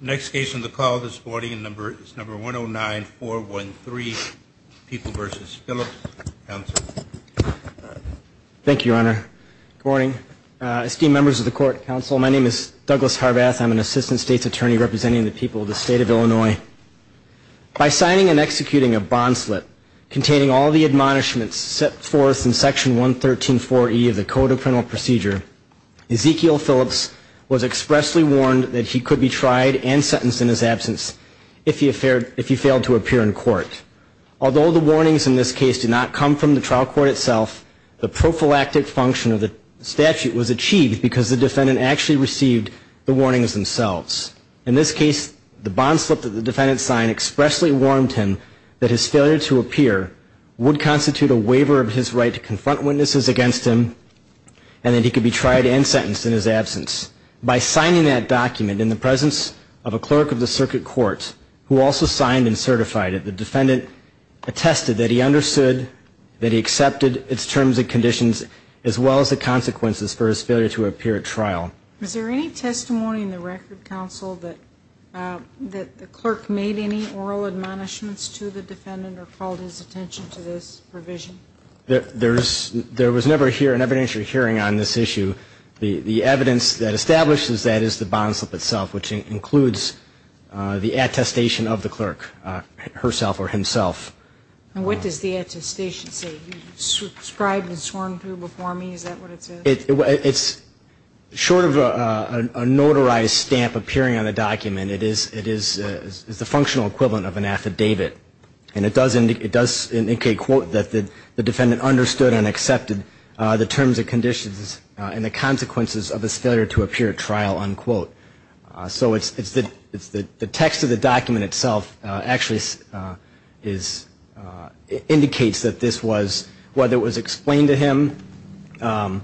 Next case on the call this morning is number 109-413, People v. Phillips. Thank you, Your Honor. Good morning. Esteemed members of the Court of Counsel, my name is Douglas Harbath. I'm an Assistant State's Attorney representing the people of the state of Illinois. By signing and executing a bond slip containing all the admonishments set forth in Section 113.4e of the Code of Criminal Procedure, Ezekiel Phillips was expressly warned that he could be tried and sentenced in his absence if he failed to appear in court. Although the warnings in this case did not come from the trial court itself, the prophylactic function of the statute was achieved because the defendant actually received the warnings themselves. In this case, the bond slip that the defendant signed expressly warned him that his failure to appear would constitute a waiver of his right to confront witnesses against him, and that he could be tried and sentenced in his absence. By signing that document in the presence of a clerk of the circuit court, who also signed and certified it, the defendant attested that he understood that he accepted its terms and conditions, as well as the consequences for his failure to appear at trial. Is there any testimony in the Record Counsel that the clerk made any oral admonishments to the defendant or called his attention to this provision? No, there was never an evidentiary hearing on this issue. The evidence that establishes that is the bond slip itself, which includes the attestation of the clerk herself or himself. And what does the attestation say? It's short of a notarized stamp appearing on the document. And it is the functional equivalent of an affidavit. And it does indicate, quote, that the defendant understood and accepted the terms and conditions and the consequences of his failure to appear at trial, unquote. So the text of the document itself actually indicates that this was, whether it was explained to him, or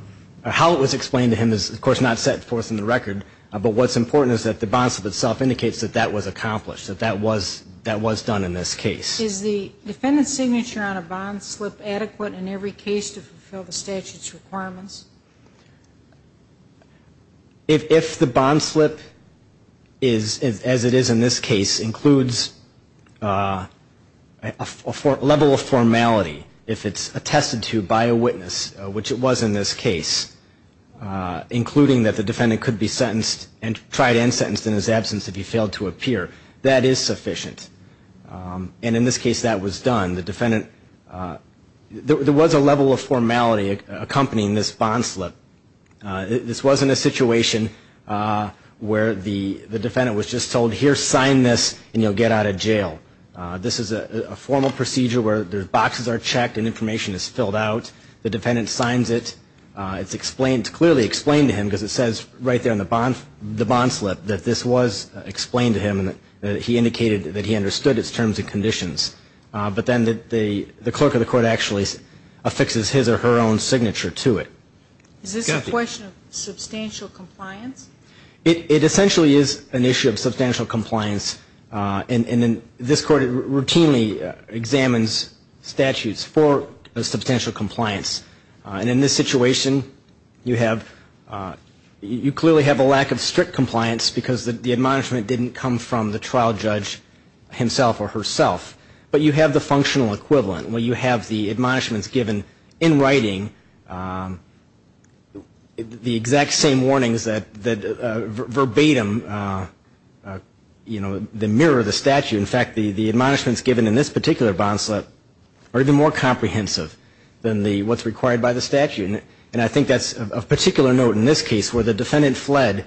how it was explained to him is, of course, not set forth in the record. But what's important is that the bond slip itself indicates that that was accomplished, that that was done in this case. Is the defendant's signature on a bond slip adequate in every case to fulfill the statute's requirements? If the bond slip, as it is in this case, includes a level of formality, if it's attested to by a witness, which it was in this case, including that the defendant could be sentenced and tried and sentenced in his absence if he failed to appear, that is sufficient. And in this case that was done. There was a level of formality accompanying this bond slip. This wasn't a situation where the defendant was just told, here, sign this, and you'll get out of jail. This is a formal procedure where the boxes are checked and information is filled out. The defendant signs it. It's clearly explained to him, because it says right there on the bond slip that this was explained to him, and he indicated that he understood its terms and conditions. But then the clerk of the court actually affixes his or her own signature to it. Is this a question of substantial compliance? It essentially is an issue of substantial compliance. And this Court routinely examines statutes for substantial compliance. And in this situation, you clearly have a lack of strict compliance, because the admonishment didn't come from the trial judge himself or herself. But you have the functional equivalent where you have the admonishments given in writing, the exact same warnings that verbatim mirror the statute. In fact, the admonishments given in this particular bond slip are even more comprehensive than what's required by the statute. And I think that's of particular note in this case where the defendant fled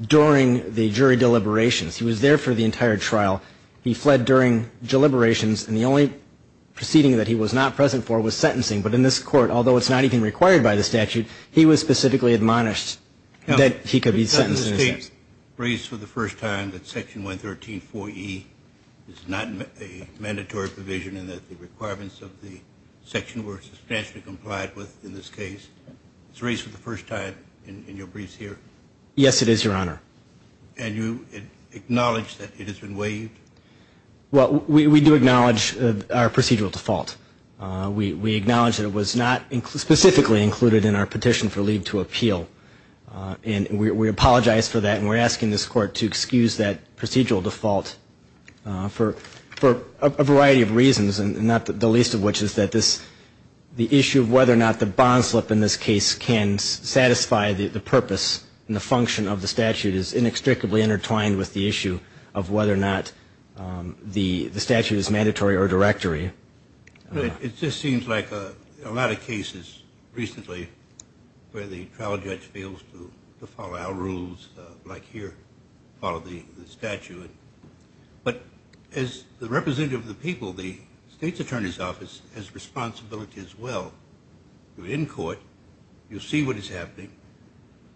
during the jury deliberations. He was there for the entire trial. He fled during deliberations, and the only proceeding that he was not present for was sentencing. But in this Court, although it's not even required by the statute, he was specifically admonished that he could be sentenced in this case. Is this case raised for the first time that Section 113.4e is not a mandatory provision and that the requirements of the section were substantially complied with in this case? It's raised for the first time in your briefs here? Yes, it is, Your Honor. And you acknowledge that it has been waived? Well, we do acknowledge our procedural default. We acknowledge that it was not specifically included in our petition for leave to appeal, and we apologize for that, and we're asking this Court to excuse that procedural default for a variety of reasons, and not the least of which is that the issue of whether or not the bond slip in this case can satisfy the purpose and the function of the statute is inextricably intertwined with the issue of whether or not the statute is mandatory or directory. It just seems like a lot of cases recently where the trial judge fails to follow our rules, like here, follow the statute. But as the representative of the people, the State's Attorney's Office has responsibility as well. You're in court. You see what is happening.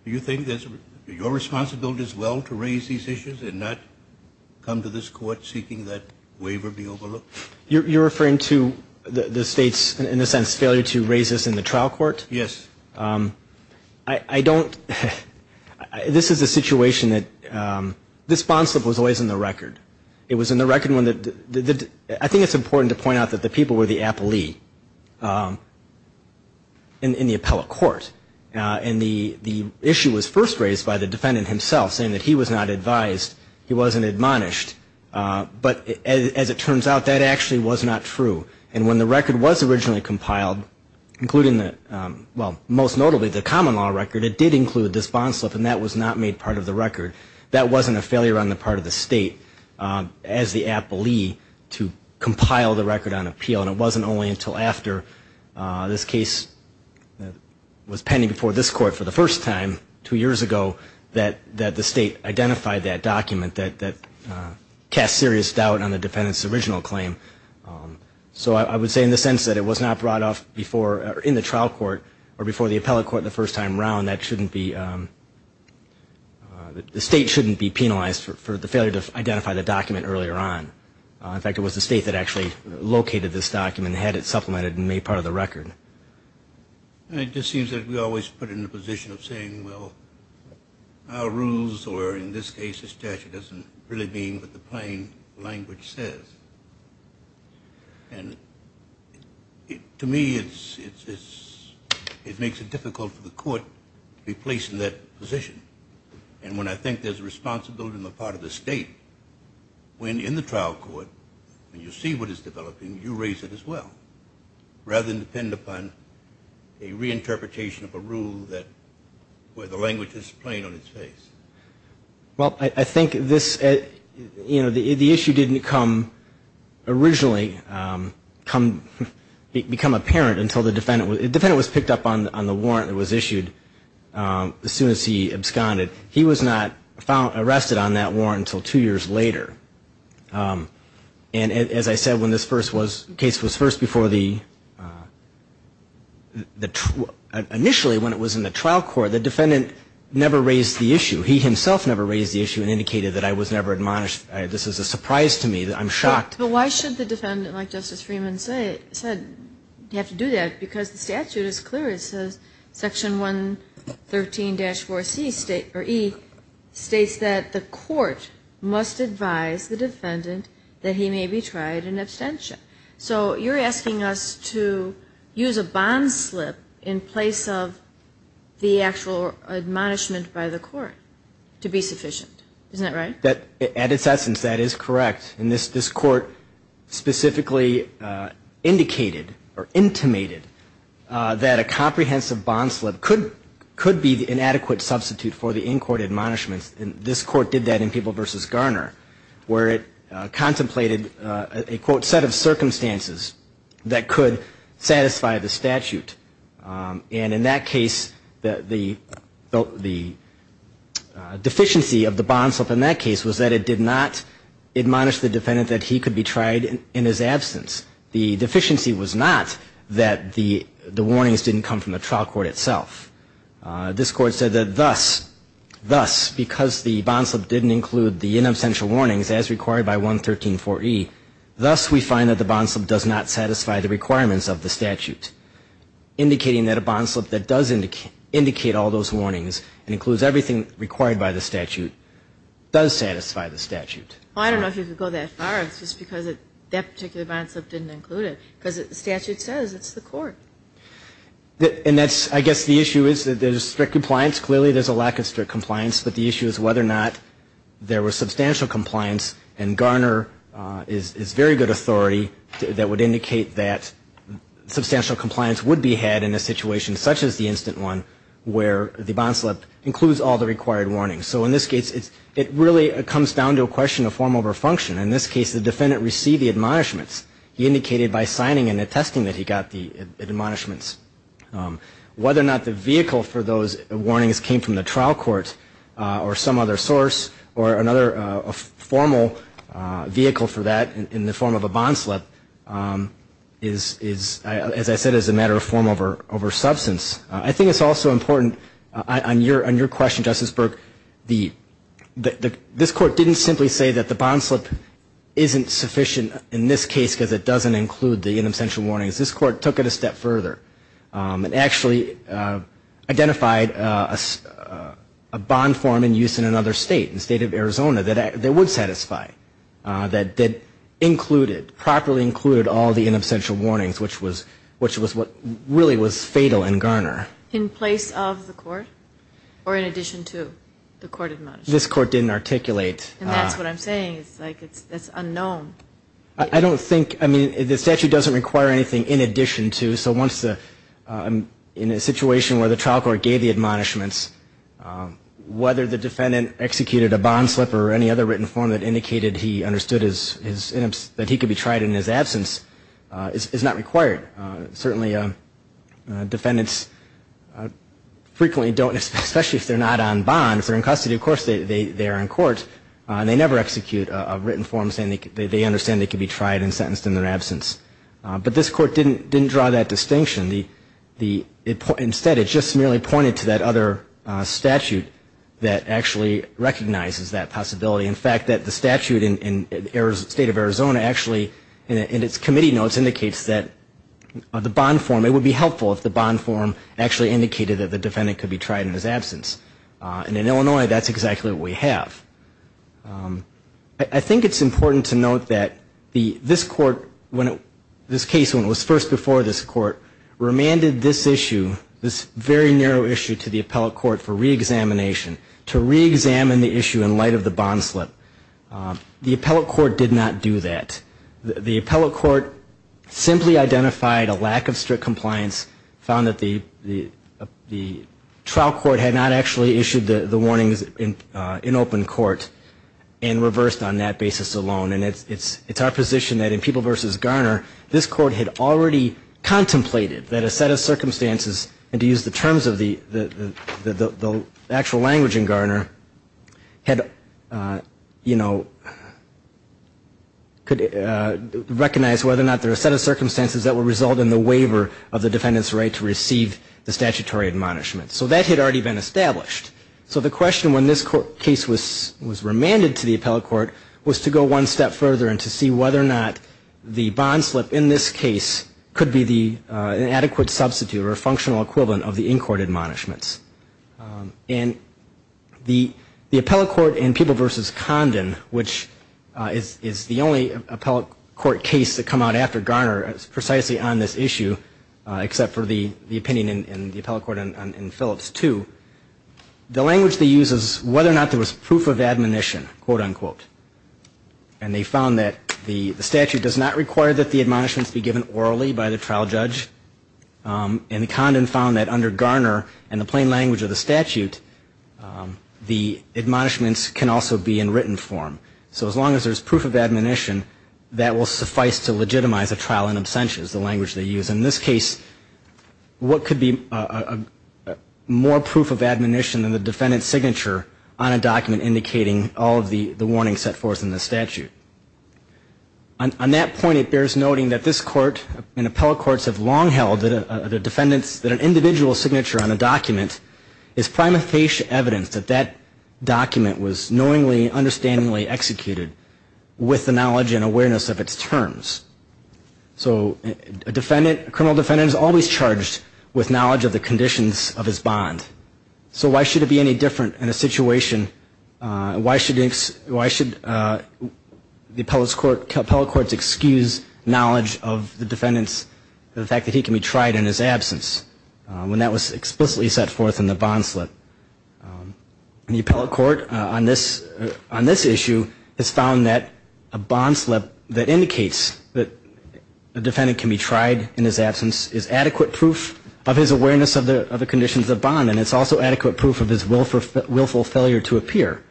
Do you think it's your responsibility as well to raise these issues and not come to this Court seeking that waiver be overlooked? You're referring to the State's, in a sense, failure to raise this in the trial court? Yes. This is a situation that this bond slip was always in the record. I think it's important to point out that the people were the appellee in the appellate court, and the issue was first raised by the defendant himself, saying that he was not advised, he wasn't admonished. But as it turns out, that actually was not true. And when the record was originally compiled, including the, well, most notably the common law record, it did include this bond slip, and that was not made part of the record. That wasn't a failure on the part of the State as the appellee to compile the record on appeal, and it wasn't only until after this case was pending before this Court for the first time two years ago that the State identified that document that cast serious doubt on the defendant's original claim. So I would say in the sense that it was not brought up before, in the trial court, or before the appellate court the first time around, that shouldn't be, the State shouldn't be penalized for the failure to identify the document earlier on. In fact, it was the State that actually located this document and had it supplemented and made part of the record. And it just seems that we always put it in the position of saying, well, our rules, or in this case the statute, doesn't really mean what the plain language says. And to me it makes it difficult for the Court to be placed in that position. And when I think there's a responsibility on the part of the State, when in the trial court, when you see what is developing, you raise it as well, rather than depend upon a reinterpretation of a rule where the language is plain on its face. Well, I think this, you know, the issue didn't come originally, become apparent until the defendant, the defendant was picked up on the warrant that was issued as soon as he absconded. He was not found, arrested on that warrant until two years later. And as I said, when this first was, case was first before the, initially when it was in the trial court, the defendant never raised the issue. He himself never raised the issue and indicated that I was never admonished. This is a surprise to me. I'm shocked. But why should the defendant, like Justice Freeman said, have to do that? Because the statute is clear. It says Section 113-4E states that the Court must advise the defendant that he may be tried in abstention. So you're asking us to use a bond slip in place of the actual admonishment by the Court to be sufficient. Isn't that right? I think that, at its essence, that is correct. And this Court specifically indicated or intimated that a comprehensive bond slip could be the inadequate substitute for the in-court admonishments. And this Court did that in Peeble v. Garner, where it contemplated a, quote, set of circumstances that could satisfy the statute. And in that case, the deficiency of the bond slip, in that case, was not sufficient. In that case, it did not admonish the defendant that he could be tried in his absence. The deficiency was not that the warnings didn't come from the trial court itself. This Court said that thus, thus, because the bond slip didn't include the inabstential warnings as required by 113-4E, thus we find that the bond slip does not satisfy the requirements of the statute, indicating that a bond slip that does indicate all those warnings and includes everything required by the statute does satisfy the statute. Well, I don't know if you could go that far. It's just because that particular bond slip didn't include it. Because the statute says it's the Court. And that's, I guess, the issue is that there's strict compliance. Clearly, there's a lack of strict compliance. But the issue is whether or not there was substantial compliance. And Garner is very good authority that would indicate that substantial compliance would be had in a situation such as the instant one, where the bond slip includes all the required warnings. So in this case, it really comes down to a question of form over function. In this case, the defendant received the admonishments. He indicated by signing and attesting that he got the admonishments. Whether or not the vehicle for those warnings came from the trial court or some other source or another formal vehicle for that in the form of a bond slip, as I said, is a matter of form over substance. On your question, Justice Burke, this Court didn't simply say that the bond slip isn't sufficient in this case because it doesn't include the in absentia warnings. This Court took it a step further and actually identified a bond form in use in another state, in the state of Arizona, that would satisfy. That included, properly included, all the in absentia warnings, which was what really was fatal in Garner. In place of the court? Or in addition to the court admonishments? This Court didn't articulate. And that's what I'm saying. It's like, it's unknown. I don't think, I mean, the statute doesn't require anything in addition to, so once the, in a situation where the trial court gave the admonishments, whether the defendant executed a bond slip or any other written form that indicated he understood his, that he could be tried in his absence is not required. Certainly defendants frequently don't, especially if they're not on bond, if they're in custody, of course, they are in court, and they never execute a written form saying they understand they could be tried and sentenced in their absence. But this Court didn't draw that distinction. Instead, it just merely pointed to that other statute that actually recognizes that possibility. In fact, that the statute in the state of Arizona actually, in its committee notes, indicates that bond slip is not sufficient. The bond form, it would be helpful if the bond form actually indicated that the defendant could be tried in his absence. And in Illinois, that's exactly what we have. I think it's important to note that this Court, this case when it was first before this Court, remanded this issue, this very narrow issue to the appellate court for reexamination, to reexamine the issue in light of the bond slip. The appellate court did not do that. The appellate court simply identified a lack of strict compliance, found that the trial court had not actually issued the warnings in open court, and reversed on that basis alone. And it's our position that in People v. Garner, this Court had already contemplated that a set of circumstances, and to use the terms of the actual language in Garner, had already been established. So the question when this case was remanded to the appellate court was to go one step further and to see whether or not the bond slip in this case could be the adequate substitute or functional equivalent of the in-court admonishments. And the appellate court in People v. Condon, which is the only appellate court case to come out after Garner, is precisely on this issue, except for the opinion in the appellate court in Phillips 2. The language they use is whether or not there was proof of admonition, quote unquote. And they found that the statute does not require that the admonishments be given orally by the trial judge. And Condon found that under Garner and the plain language of the statute, the admonishments can also be in written form. So as long as there's proof of admonition, that will suffice to legitimize a trial in absentia is the language they use. In this case, what could be more proof of admonition than the defendant's signature on a document indicating all of the warnings set forth in the statute? On that point, it bears noting that this court and appellate courts have long held that a defendant's, that an individual's signature on a document is prima facie evidence that that document was knowingly, understandingly executed with the knowledge and awareness of its terms. So a defendant, a criminal defendant is always charged with knowledge of the conditions of his bond. So why should it be any different in a situation? The appellate courts excuse knowledge of the defendant's, the fact that he can be tried in his absence, when that was explicitly set forth in the bond slip. The appellate court on this issue has found that a bond slip that indicates that a defendant can be tried in his absence is adequate proof of his awareness of the conditions of the bond, and it's also adequate proof of his willful failure to appear.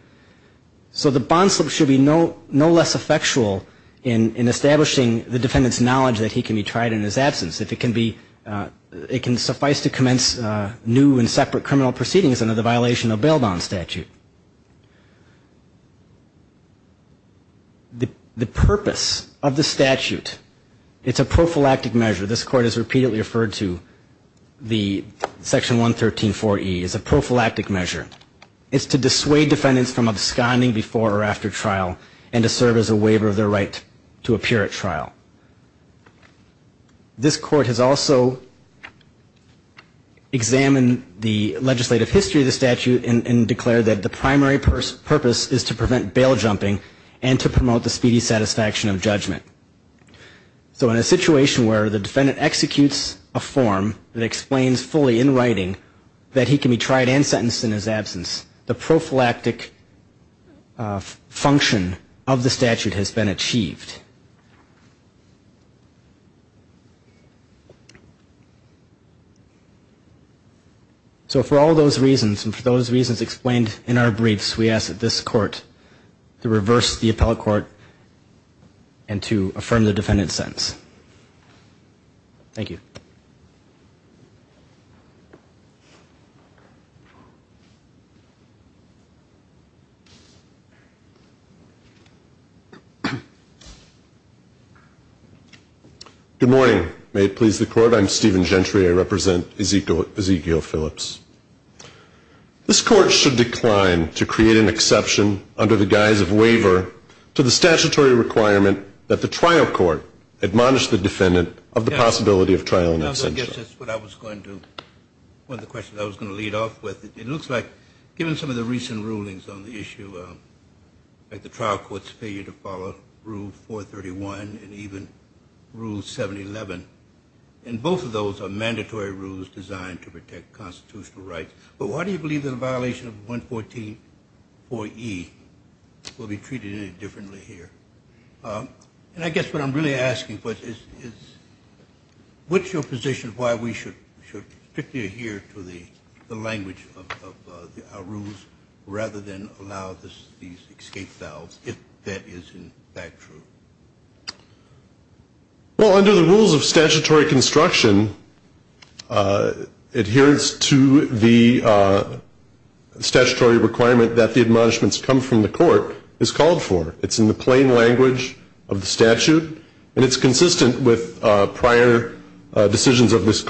So the bond slip should be no less effectual in establishing the defendant's knowledge that he can be tried in his absence. It can suffice to commence new and separate criminal proceedings under the violation of bail bond statute. The purpose of the statute, it's a prophylactic measure. This court has repeatedly referred to the Section 113.4e as a prophylactic measure. It's to dissuade defendants from absconding before or after trial and to serve as a waiver of their right to appear at trial. This court has also examined the legislative history of the statute and declared that the primary purpose is to prevent bail jumping and to promote the speedy satisfaction of judgment. So in a situation where the defendant executes a form that explains fully in writing that he can be tried and sentenced in his absence, the prophylactic function of the statute has been achieved. So for all those reasons, and for those reasons explained in our briefs, we ask that this court to reverse the appellate court and to affirm the defendant's sentence. Thank you. Good morning. May it please the court. I'm Stephen Gentry. I represent Ezekiel Phillips. This court should decline to create an exception under the guise of waiver to the statutory requirement that the trial court admonish the defendant of the possibility of trial in ex-sensu. I guess that's what I was going to, one of the questions I was going to lead off with. It looks like, given some of the recent rulings on the issue, like the trial court's failure to follow Rule 431 and even Rule 711, and both of those are mandatory rules designed to protect constitutional rights. But why do you believe that a violation of 114.4e will be treated any differently here? And I guess what I'm really asking is, what's your position of why we should strictly adhere to the language of our rules rather than allow these escape valves, if that is in fact true? Well, under the rules of statutory construction, adherence to the statutory requirement that the admonishments come from the defendant of the possibility of trial in ex-sensu. And I think that's a good question. I think that's a good question. It's consistent with the language of the statute, and it's consistent with prior decisions of this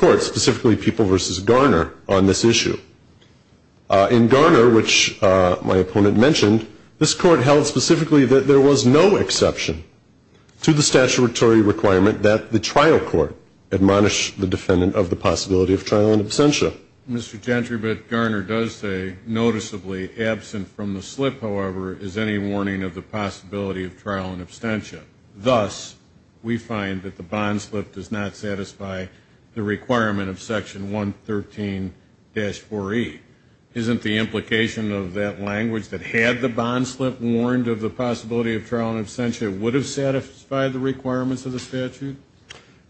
Court, thus we find that the bond slip does not satisfy the requirement of Section 113-4e. Isn't the implication of that language, that had the bond slip warned of the possibility of trial in ex-sensu, it would have satisfied the requirements of the statute?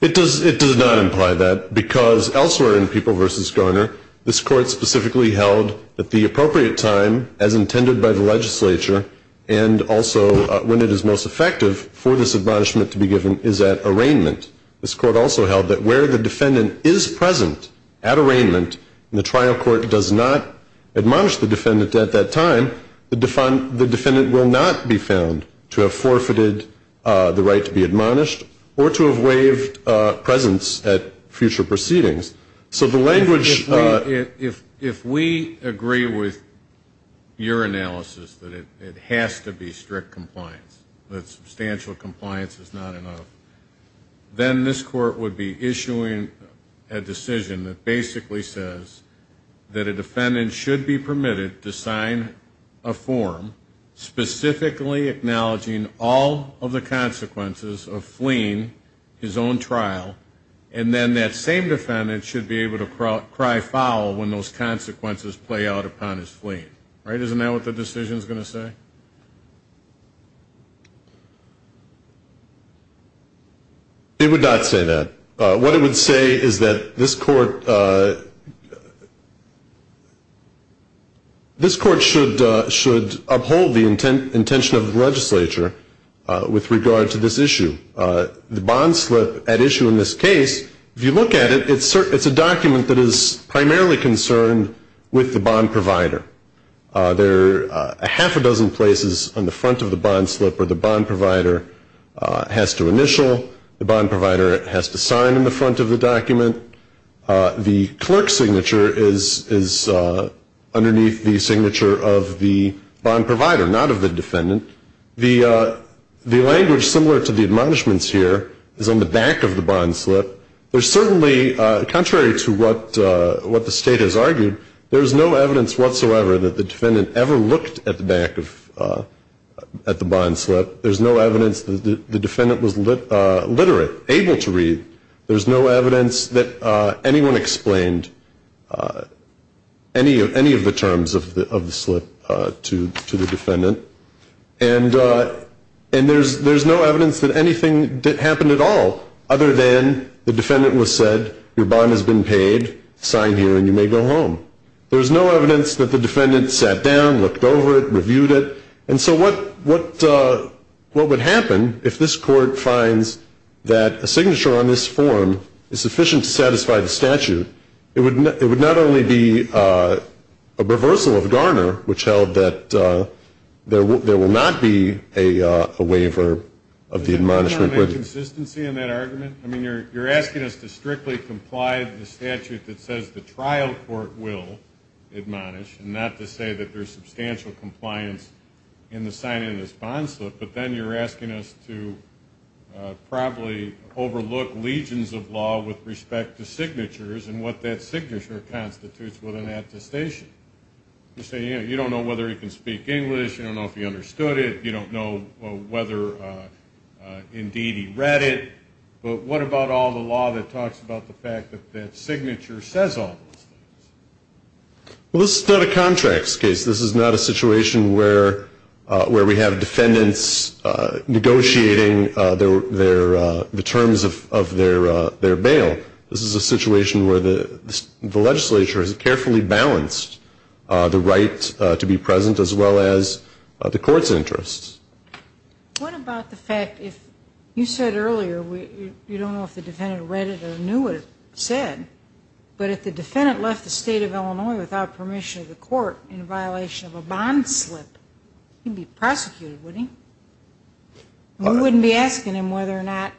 It does not imply that, because elsewhere in People v. Garner, this Court specifically held that the appropriate time, as intended by the legislature, and also when it is most effective for this admonishment to be given, is at arraignment. This Court also held that where the defendant is present at arraignment, and the trial court does not admonish the defendant at that time, the defendant will not be found to have forfeited the right to be admonished or to have waived presence at future proceedings. So the language... If we agree with your analysis that it has to be strict compliance, that substantial compliance is not enough, then this Court would be issuing a decision that basically says that a defendant should be permitted to sign a form specifically acknowledging all of the consequences of fleeing his own trial, and then that same defendant should be able to cry foul when those consequences play out upon his fleeing. Isn't that what the decision is going to say? It would not say that. What it would say is that this Court should uphold the intention of the legislature with regard to this issue. The bond slip at issue in this case, if you look at it, it's a document that is primarily concerned with the bond provider. There are a half a dozen places on the front of the bond slip where the bond provider has to initial, the bond provider has to sign on the front of the document. The clerk's signature is underneath the signature of the bond provider, not of the defendant. The language similar to the admonishments here is on the back of the bond slip. There's certainly, contrary to what the State has argued, there's no evidence whatsoever that the defendant ever looked at the back of, at the bond slip. There's no evidence that the defendant was literate, able to read. There's no evidence that anyone explained any of the terms of the slip to the defendant. And there's no evidence that anything happened at all other than the defendant was said, your bond has been paid, sign here and you may go home. There's no evidence that the defendant sat down, looked over it, reviewed it. And so what would happen if this Court finds that a signature on this form is sufficient to satisfy the statute? Which held that there will not be a waiver of the admonishment. Does anyone want to make consistency in that argument? I mean, you're asking us to strictly comply with the statute that says the trial court will admonish, and not to say that there's substantial compliance in the signing of this bond slip. But then you're asking us to probably overlook legions of law with respect to signatures and what that signature constitutes with an attestation. You're saying you don't know whether he can speak English, you don't know if he understood it, you don't know whether, indeed, he read it. But what about all the law that talks about the fact that that signature says all those things? Well, this is not a contracts case. This is not a situation where we have defendants negotiating the terms of their bail. This is a situation where the legislature has carefully balanced the right to be present, as well as the Court's interests. What about the fact if you said earlier you don't know if the defendant read it or knew what it said, but if the defendant left the State of Illinois without permission of the Court in violation of a bond slip, he'd be prosecuted, wouldn't he? We wouldn't be asking him whether or not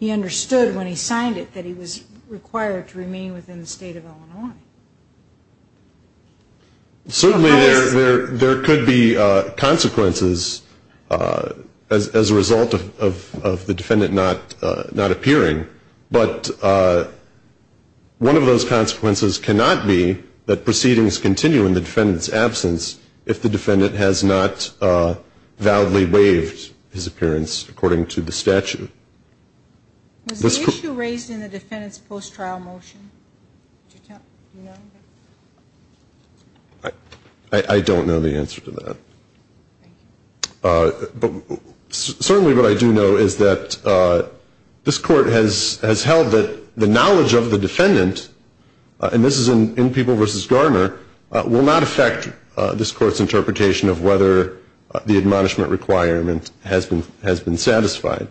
he understood when he signed it that he was required to remain within the State of Illinois. Certainly there could be consequences as a result of the defendant not appearing, but one of those consequences cannot be that proceedings continue in the defendant's absence if the defendant has not validly waived his appearance according to the statute. Was the issue raised in the defendant's post-trial motion? I don't know the answer to that. Certainly what I do know is that this Court has held that the knowledge of the defendant, and this is in People v. Garner, will not affect this Court's interpretation of whether the admonishment requirement has been satisfied.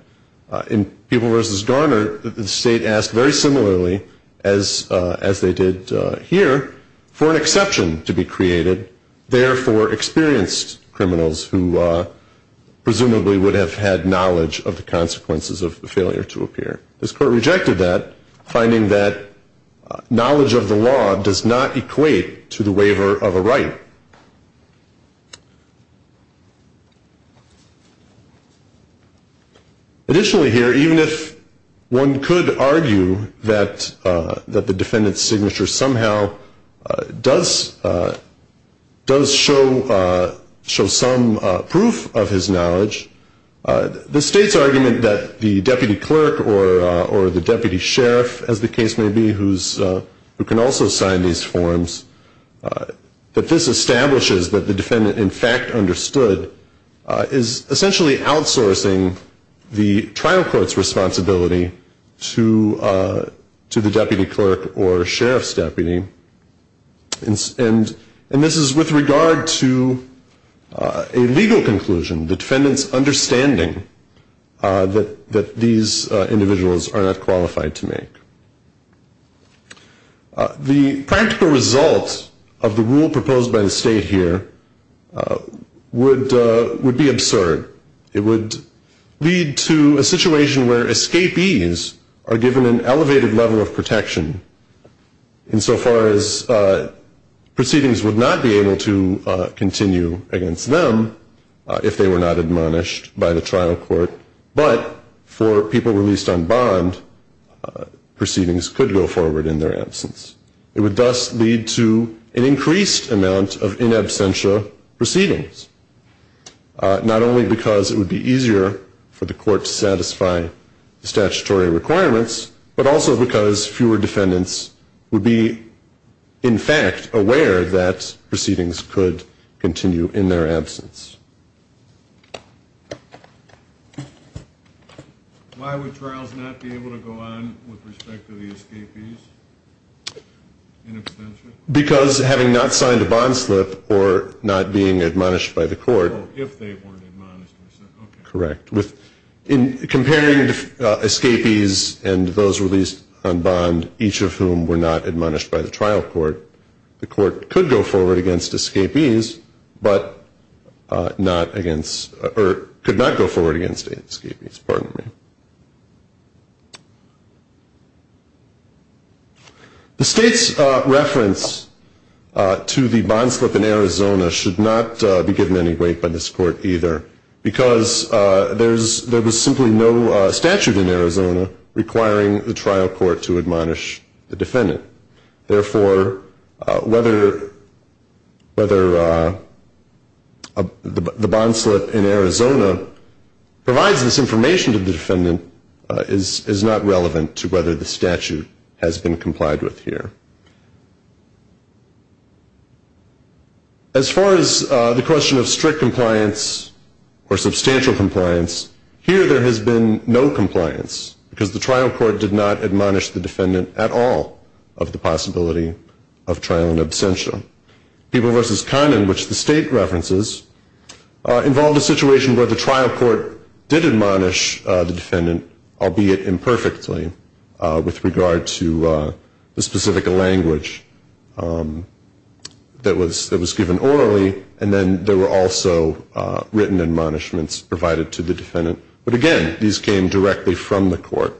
In People v. Garner, the State asked very similarly, as they did here, for an exception to be created, therefore experienced criminals who presumably would have had knowledge of the consequences of the failure to appear. This Court rejected that, finding that knowledge of the law does not equate to the waiver of a right. Additionally here, even if one could argue that the defendant's signature somehow does show some proof of his knowledge, the State's argument that the deputy clerk or the deputy sheriff, as the case may be, who can also sign these forms, that this establishes that the defendant in fact understood, is essentially outsourcing the trial court's responsibility to the deputy clerk or sheriff's deputy. And this is with regard to a legal conclusion, the defendant's understanding that these individuals are not qualified to make. The practical result of the rule proposed by the State here would be absurd. It would lead to a situation where escapees are given an elevated level of protection insofar as proceedings would not be able to continue against them if they were not admonished by the trial court, but for people released on bond, proceedings could go forward in their absence. It would thus lead to an increased amount of in absentia proceedings, not only because it would be easier for the court to satisfy the statutory requirements, but also because fewer defendants would be in fact aware that proceedings could continue in their absence. Why would trials not be able to go on with respect to the escapees in absentia? Because having not signed a bond slip or not being admonished by the court. Oh, if they weren't admonished. Correct. Comparing escapees and those released on bond, each of whom were not admonished by the trial court, the court could go forward against escapees, but could not go forward against escapees. The State's reference to the bond slip in Arizona should not be given any weight by this court either, because there was simply no statute in Arizona requiring the trial court to admonish the defendant. Therefore, whether the bond slip in Arizona provides this information to the defendant is not relevant to whether the statute has been complied with here. As far as the question of strict compliance or substantial compliance, here there has been no compliance, because the trial court did not admonish the defendant at all of the possibility of trial in absentia. People v. Conn in which the State references involved a situation where the trial court did admonish the defendant, albeit imperfectly, with regard to the specific language that was given orally, and then there were also written admonishments provided to the defendant. But again, these came directly from the court.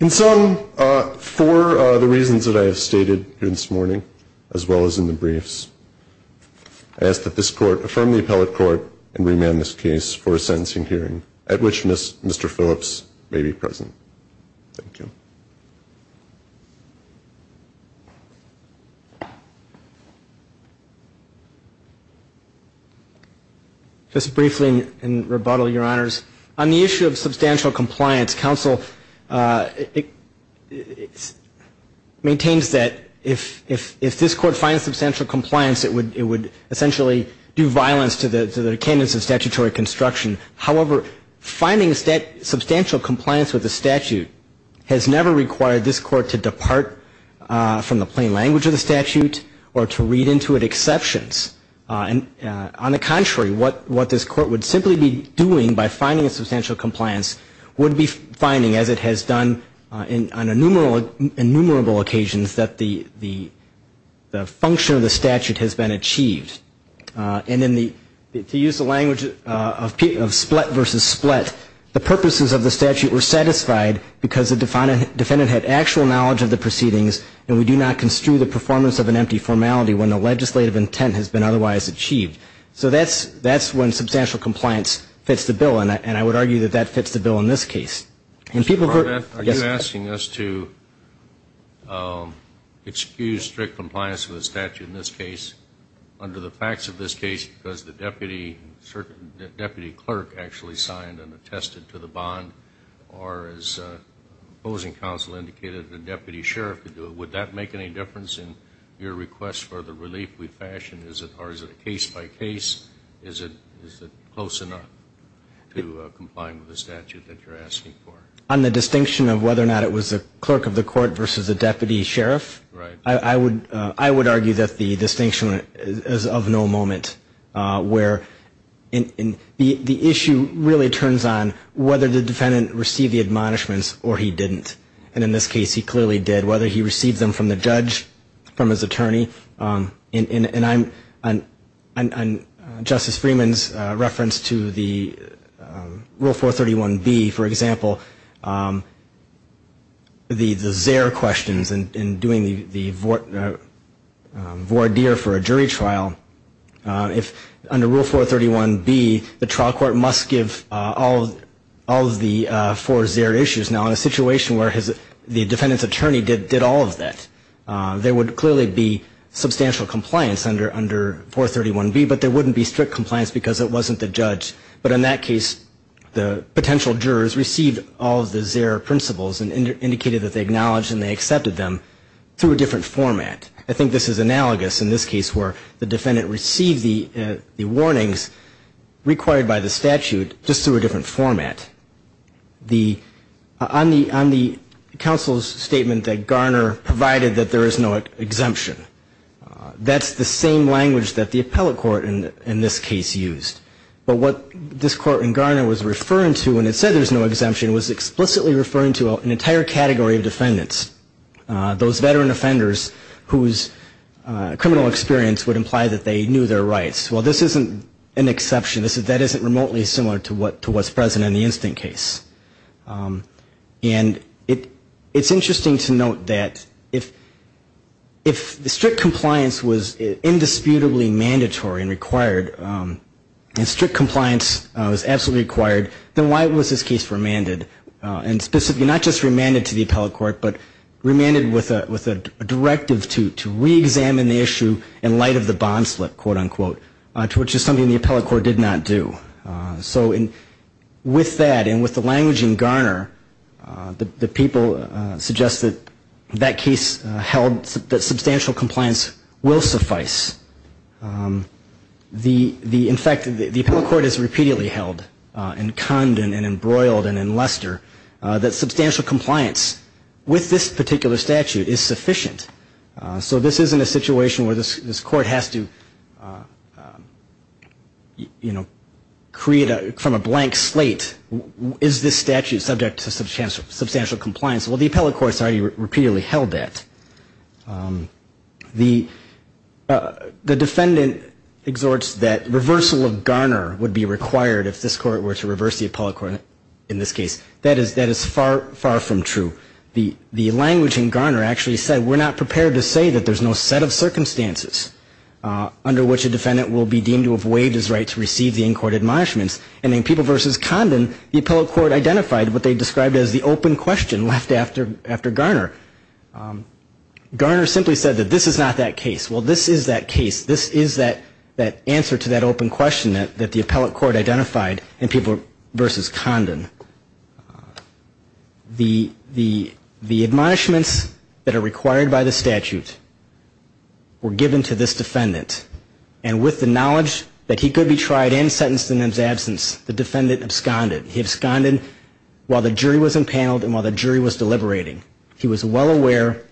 In sum, for the reasons that I have stated here this morning, as well as in the briefs, I ask that this court affirm the appellate court and remand this case for a sentencing hearing, at which Mr. Phillips may be present. Thank you. Just briefly in rebuttal, Your Honors, on the issue of substantial compliance, counsel maintains that if this court finds substantial compliance, it would essentially do violence to the candidates of statutory construction. However, finding substantial compliance with the statute has never required this court to depart from the plain language of the statute or to read into it exceptions. On the contrary, what this court would simply be doing by finding substantial compliance would be finding, as it has done on innumerable occasions, that the function of the statute has been achieved. And then to use the language of split versus split, the purposes of the statute were satisfied because the defendant had actual knowledge of the proceedings and we do not construe the performance of an empty formality when the legislative intent has been otherwise achieved. So that's when substantial compliance fits the bill, and I would argue that that fits the bill in this case. Mr. Barnett, are you asking us to excuse strict compliance with the statute in this case under the facts of this case because the deputy clerk actually signed and attested to the bond or, as opposing counsel indicated, the deputy sheriff could do it? Would that make any difference in your request for the relief we fashion? Or is it case by case? Is it close enough to comply with the statute that you're asking for? On the distinction of whether or not it was a clerk of the court versus a deputy sheriff, I would argue that the distinction is of no moment, where the issue really turns on whether the defendant received the admonishments or he didn't. And in this case he clearly did, whether he received them from the judge, from his attorney. And Justice Freeman's reference to the Rule 431B, for example, the Zare questions and doing the voir dire for a jury trial, under Rule 431B the trial court must give all of the four Zare issues. Now in a situation where the defendant's attorney did all of that, there would clearly be substantial compliance under 431B, but there wouldn't be strict compliance because it wasn't the judge. But in that case the potential jurors received all of the Zare principles and indicated that they acknowledged and they accepted them through a different format. I think this is analogous in this case where the defendant received the warnings required by the statute just through a different format. On the counsel's statement that Garner provided that there is no exemption, that's the same language that the appellate court in this case used. But what this court in Garner was referring to when it said there was no exemption was explicitly referring to an entire category of defendants, those veteran offenders whose criminal experience would imply that they knew their rights. Well, this isn't an exception, that isn't remotely similar to what's present in the instant case. And it's interesting to note that if the strict compliance was indisputably mandatory and required, and strict compliance was absolutely required, then why was this case remanded? And specifically not just remanded to the appellate court, but remanded with a directive to reexamine the issue in light of the bond slip, quote, unquote, which is something the appellate court did not do. So with that and with the language in Garner, the people suggest that that case held, that substantial compliance will suffice. In fact, the appellate court has repeatedly held and conned and embroiled and in luster that substantial compliance with this particular statute is sufficient. So this isn't a situation where this court has to, you know, create from a blank slate, is this statute subject to substantial compliance? Well, the appellate court has already repeatedly held that. The defendant exhorts that reversal of Garner would be required if this court were to reverse the appellate court in this case. That is far, far from true. The language in Garner actually said we're not prepared to say that there's no set of circumstances under which a defendant will be deemed to have waived his right to receive the in-court admonishments. And in People v. Condon, the appellate court identified what they described as the open question left after Garner. Garner simply said that this is not that case. Well, this is that case. This is that answer to that open question that the appellate court identified in People v. Condon. The admonishments that are required by the statute were given to this defendant. And with the knowledge that he could be tried and sentenced in his absence, the defendant absconded. He absconded while the jury was impaneled and while the jury was deliberating. He was well aware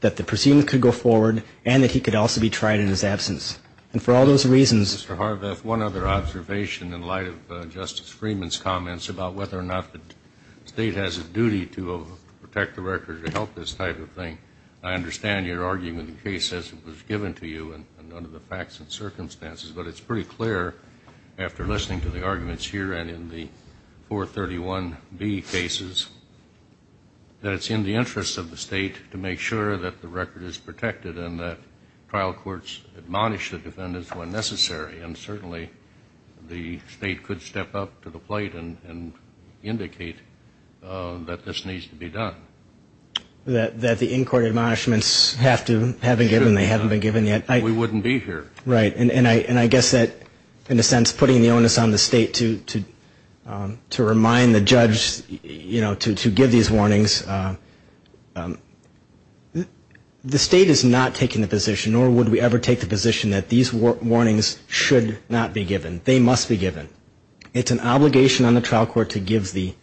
that the proceeding could go forward and that he could also be tried in his absence. And for all those reasons Mr. Harvath, one other observation in light of Justice Freeman's comments about whether or not the state has a duty to protect the record to help this type of thing. I understand your argument in the case as it was given to you and under the facts and circumstances, but it's pretty clear after listening to the arguments here and in the 431B cases that it's in the interest of the state to make sure that the record is protected and that trial courts admonish the defendants when necessary. And certainly the state could step up to the plate and indicate that this needs to be done. That the in-court admonishments have to have been given. They haven't been given yet. We wouldn't be here. Right. And I guess that in a sense putting the onus on the state to remind the judge to give these warnings. The state is not taking the position nor would we ever take the position that these warnings should not be given. They must be given. It's an obligation on the trial court to give the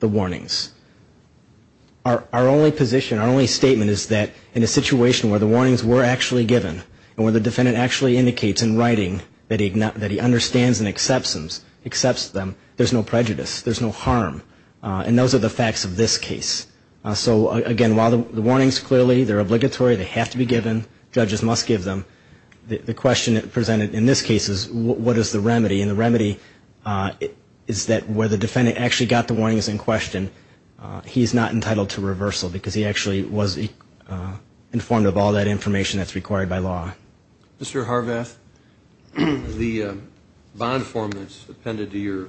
warnings. Our only position, our only statement is that in a situation where the warnings were actually given and where the defendant actually indicates in writing that he understands and accepts them, there's no prejudice, there's no harm. And those are the facts of this case. So again, while the warnings clearly, they're obligatory, they have to be given, judges must give them, the question presented in this case is what is the remedy? And the remedy is that where the defendant actually got the warnings in question, he's not entitled to reversal because he actually was informed of all that information that's required by law. Mr. Harvath, the bond form that's appended to your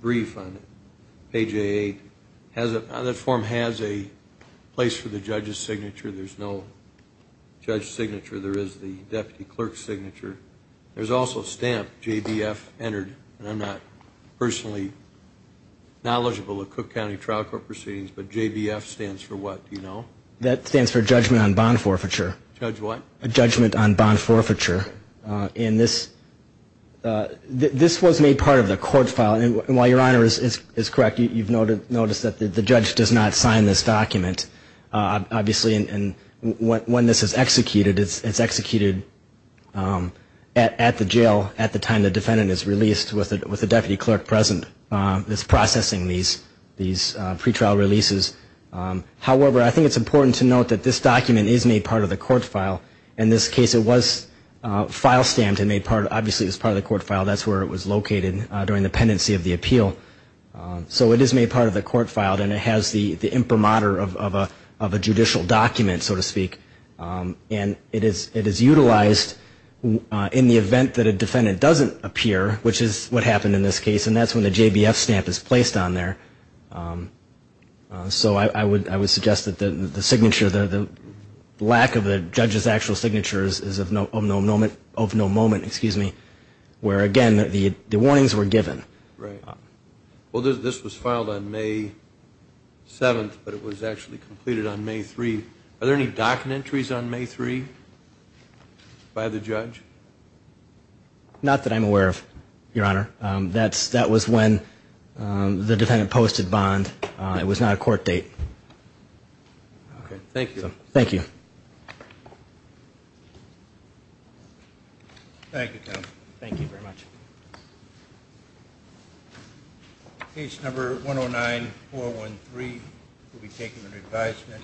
brief on page A8, there's no signature, there's no judge signature, there is the deputy clerk's signature. There's also a stamp, JBF entered, and I'm not personally knowledgeable of Cook County Trial Court proceedings, but JBF stands for what, do you know? That stands for judgment on bond forfeiture. Judge what? A judgment on bond forfeiture. This was made part of the court file, and while your Honor is correct, you've noticed that the judge does not sign this document, obviously, and when this is executed, it's executed at the jail at the time the defendant is released with the deputy clerk present that's processing these pretrial releases. However, I think it's important to note that this document is made part of the court file. In this case, it was file stamped and made part, obviously, it was part of the court file. That's where it was located during the pendency of the appeal. So it is made part of the court file, and it has the imprimatur of a judicial document, so to speak, and it is utilized in the event that a defendant doesn't appear, which is what happened in this case, and that's when the JBF stamp is placed on there. So I would suggest that the signature, the lack of the judge's actual signature is of no moment, excuse me, where, again, the warnings were given. Right. Well, this was filed on May 7th, but it was actually completed on May 3rd. Are there any documentaries on May 3rd by the judge? Not that I'm aware of, Your Honor. That was when the defendant posted bond. It was not a court date. Okay. Thank you. Thank you. Thank you, counsel. Case number 109-413 will be taken under advisement.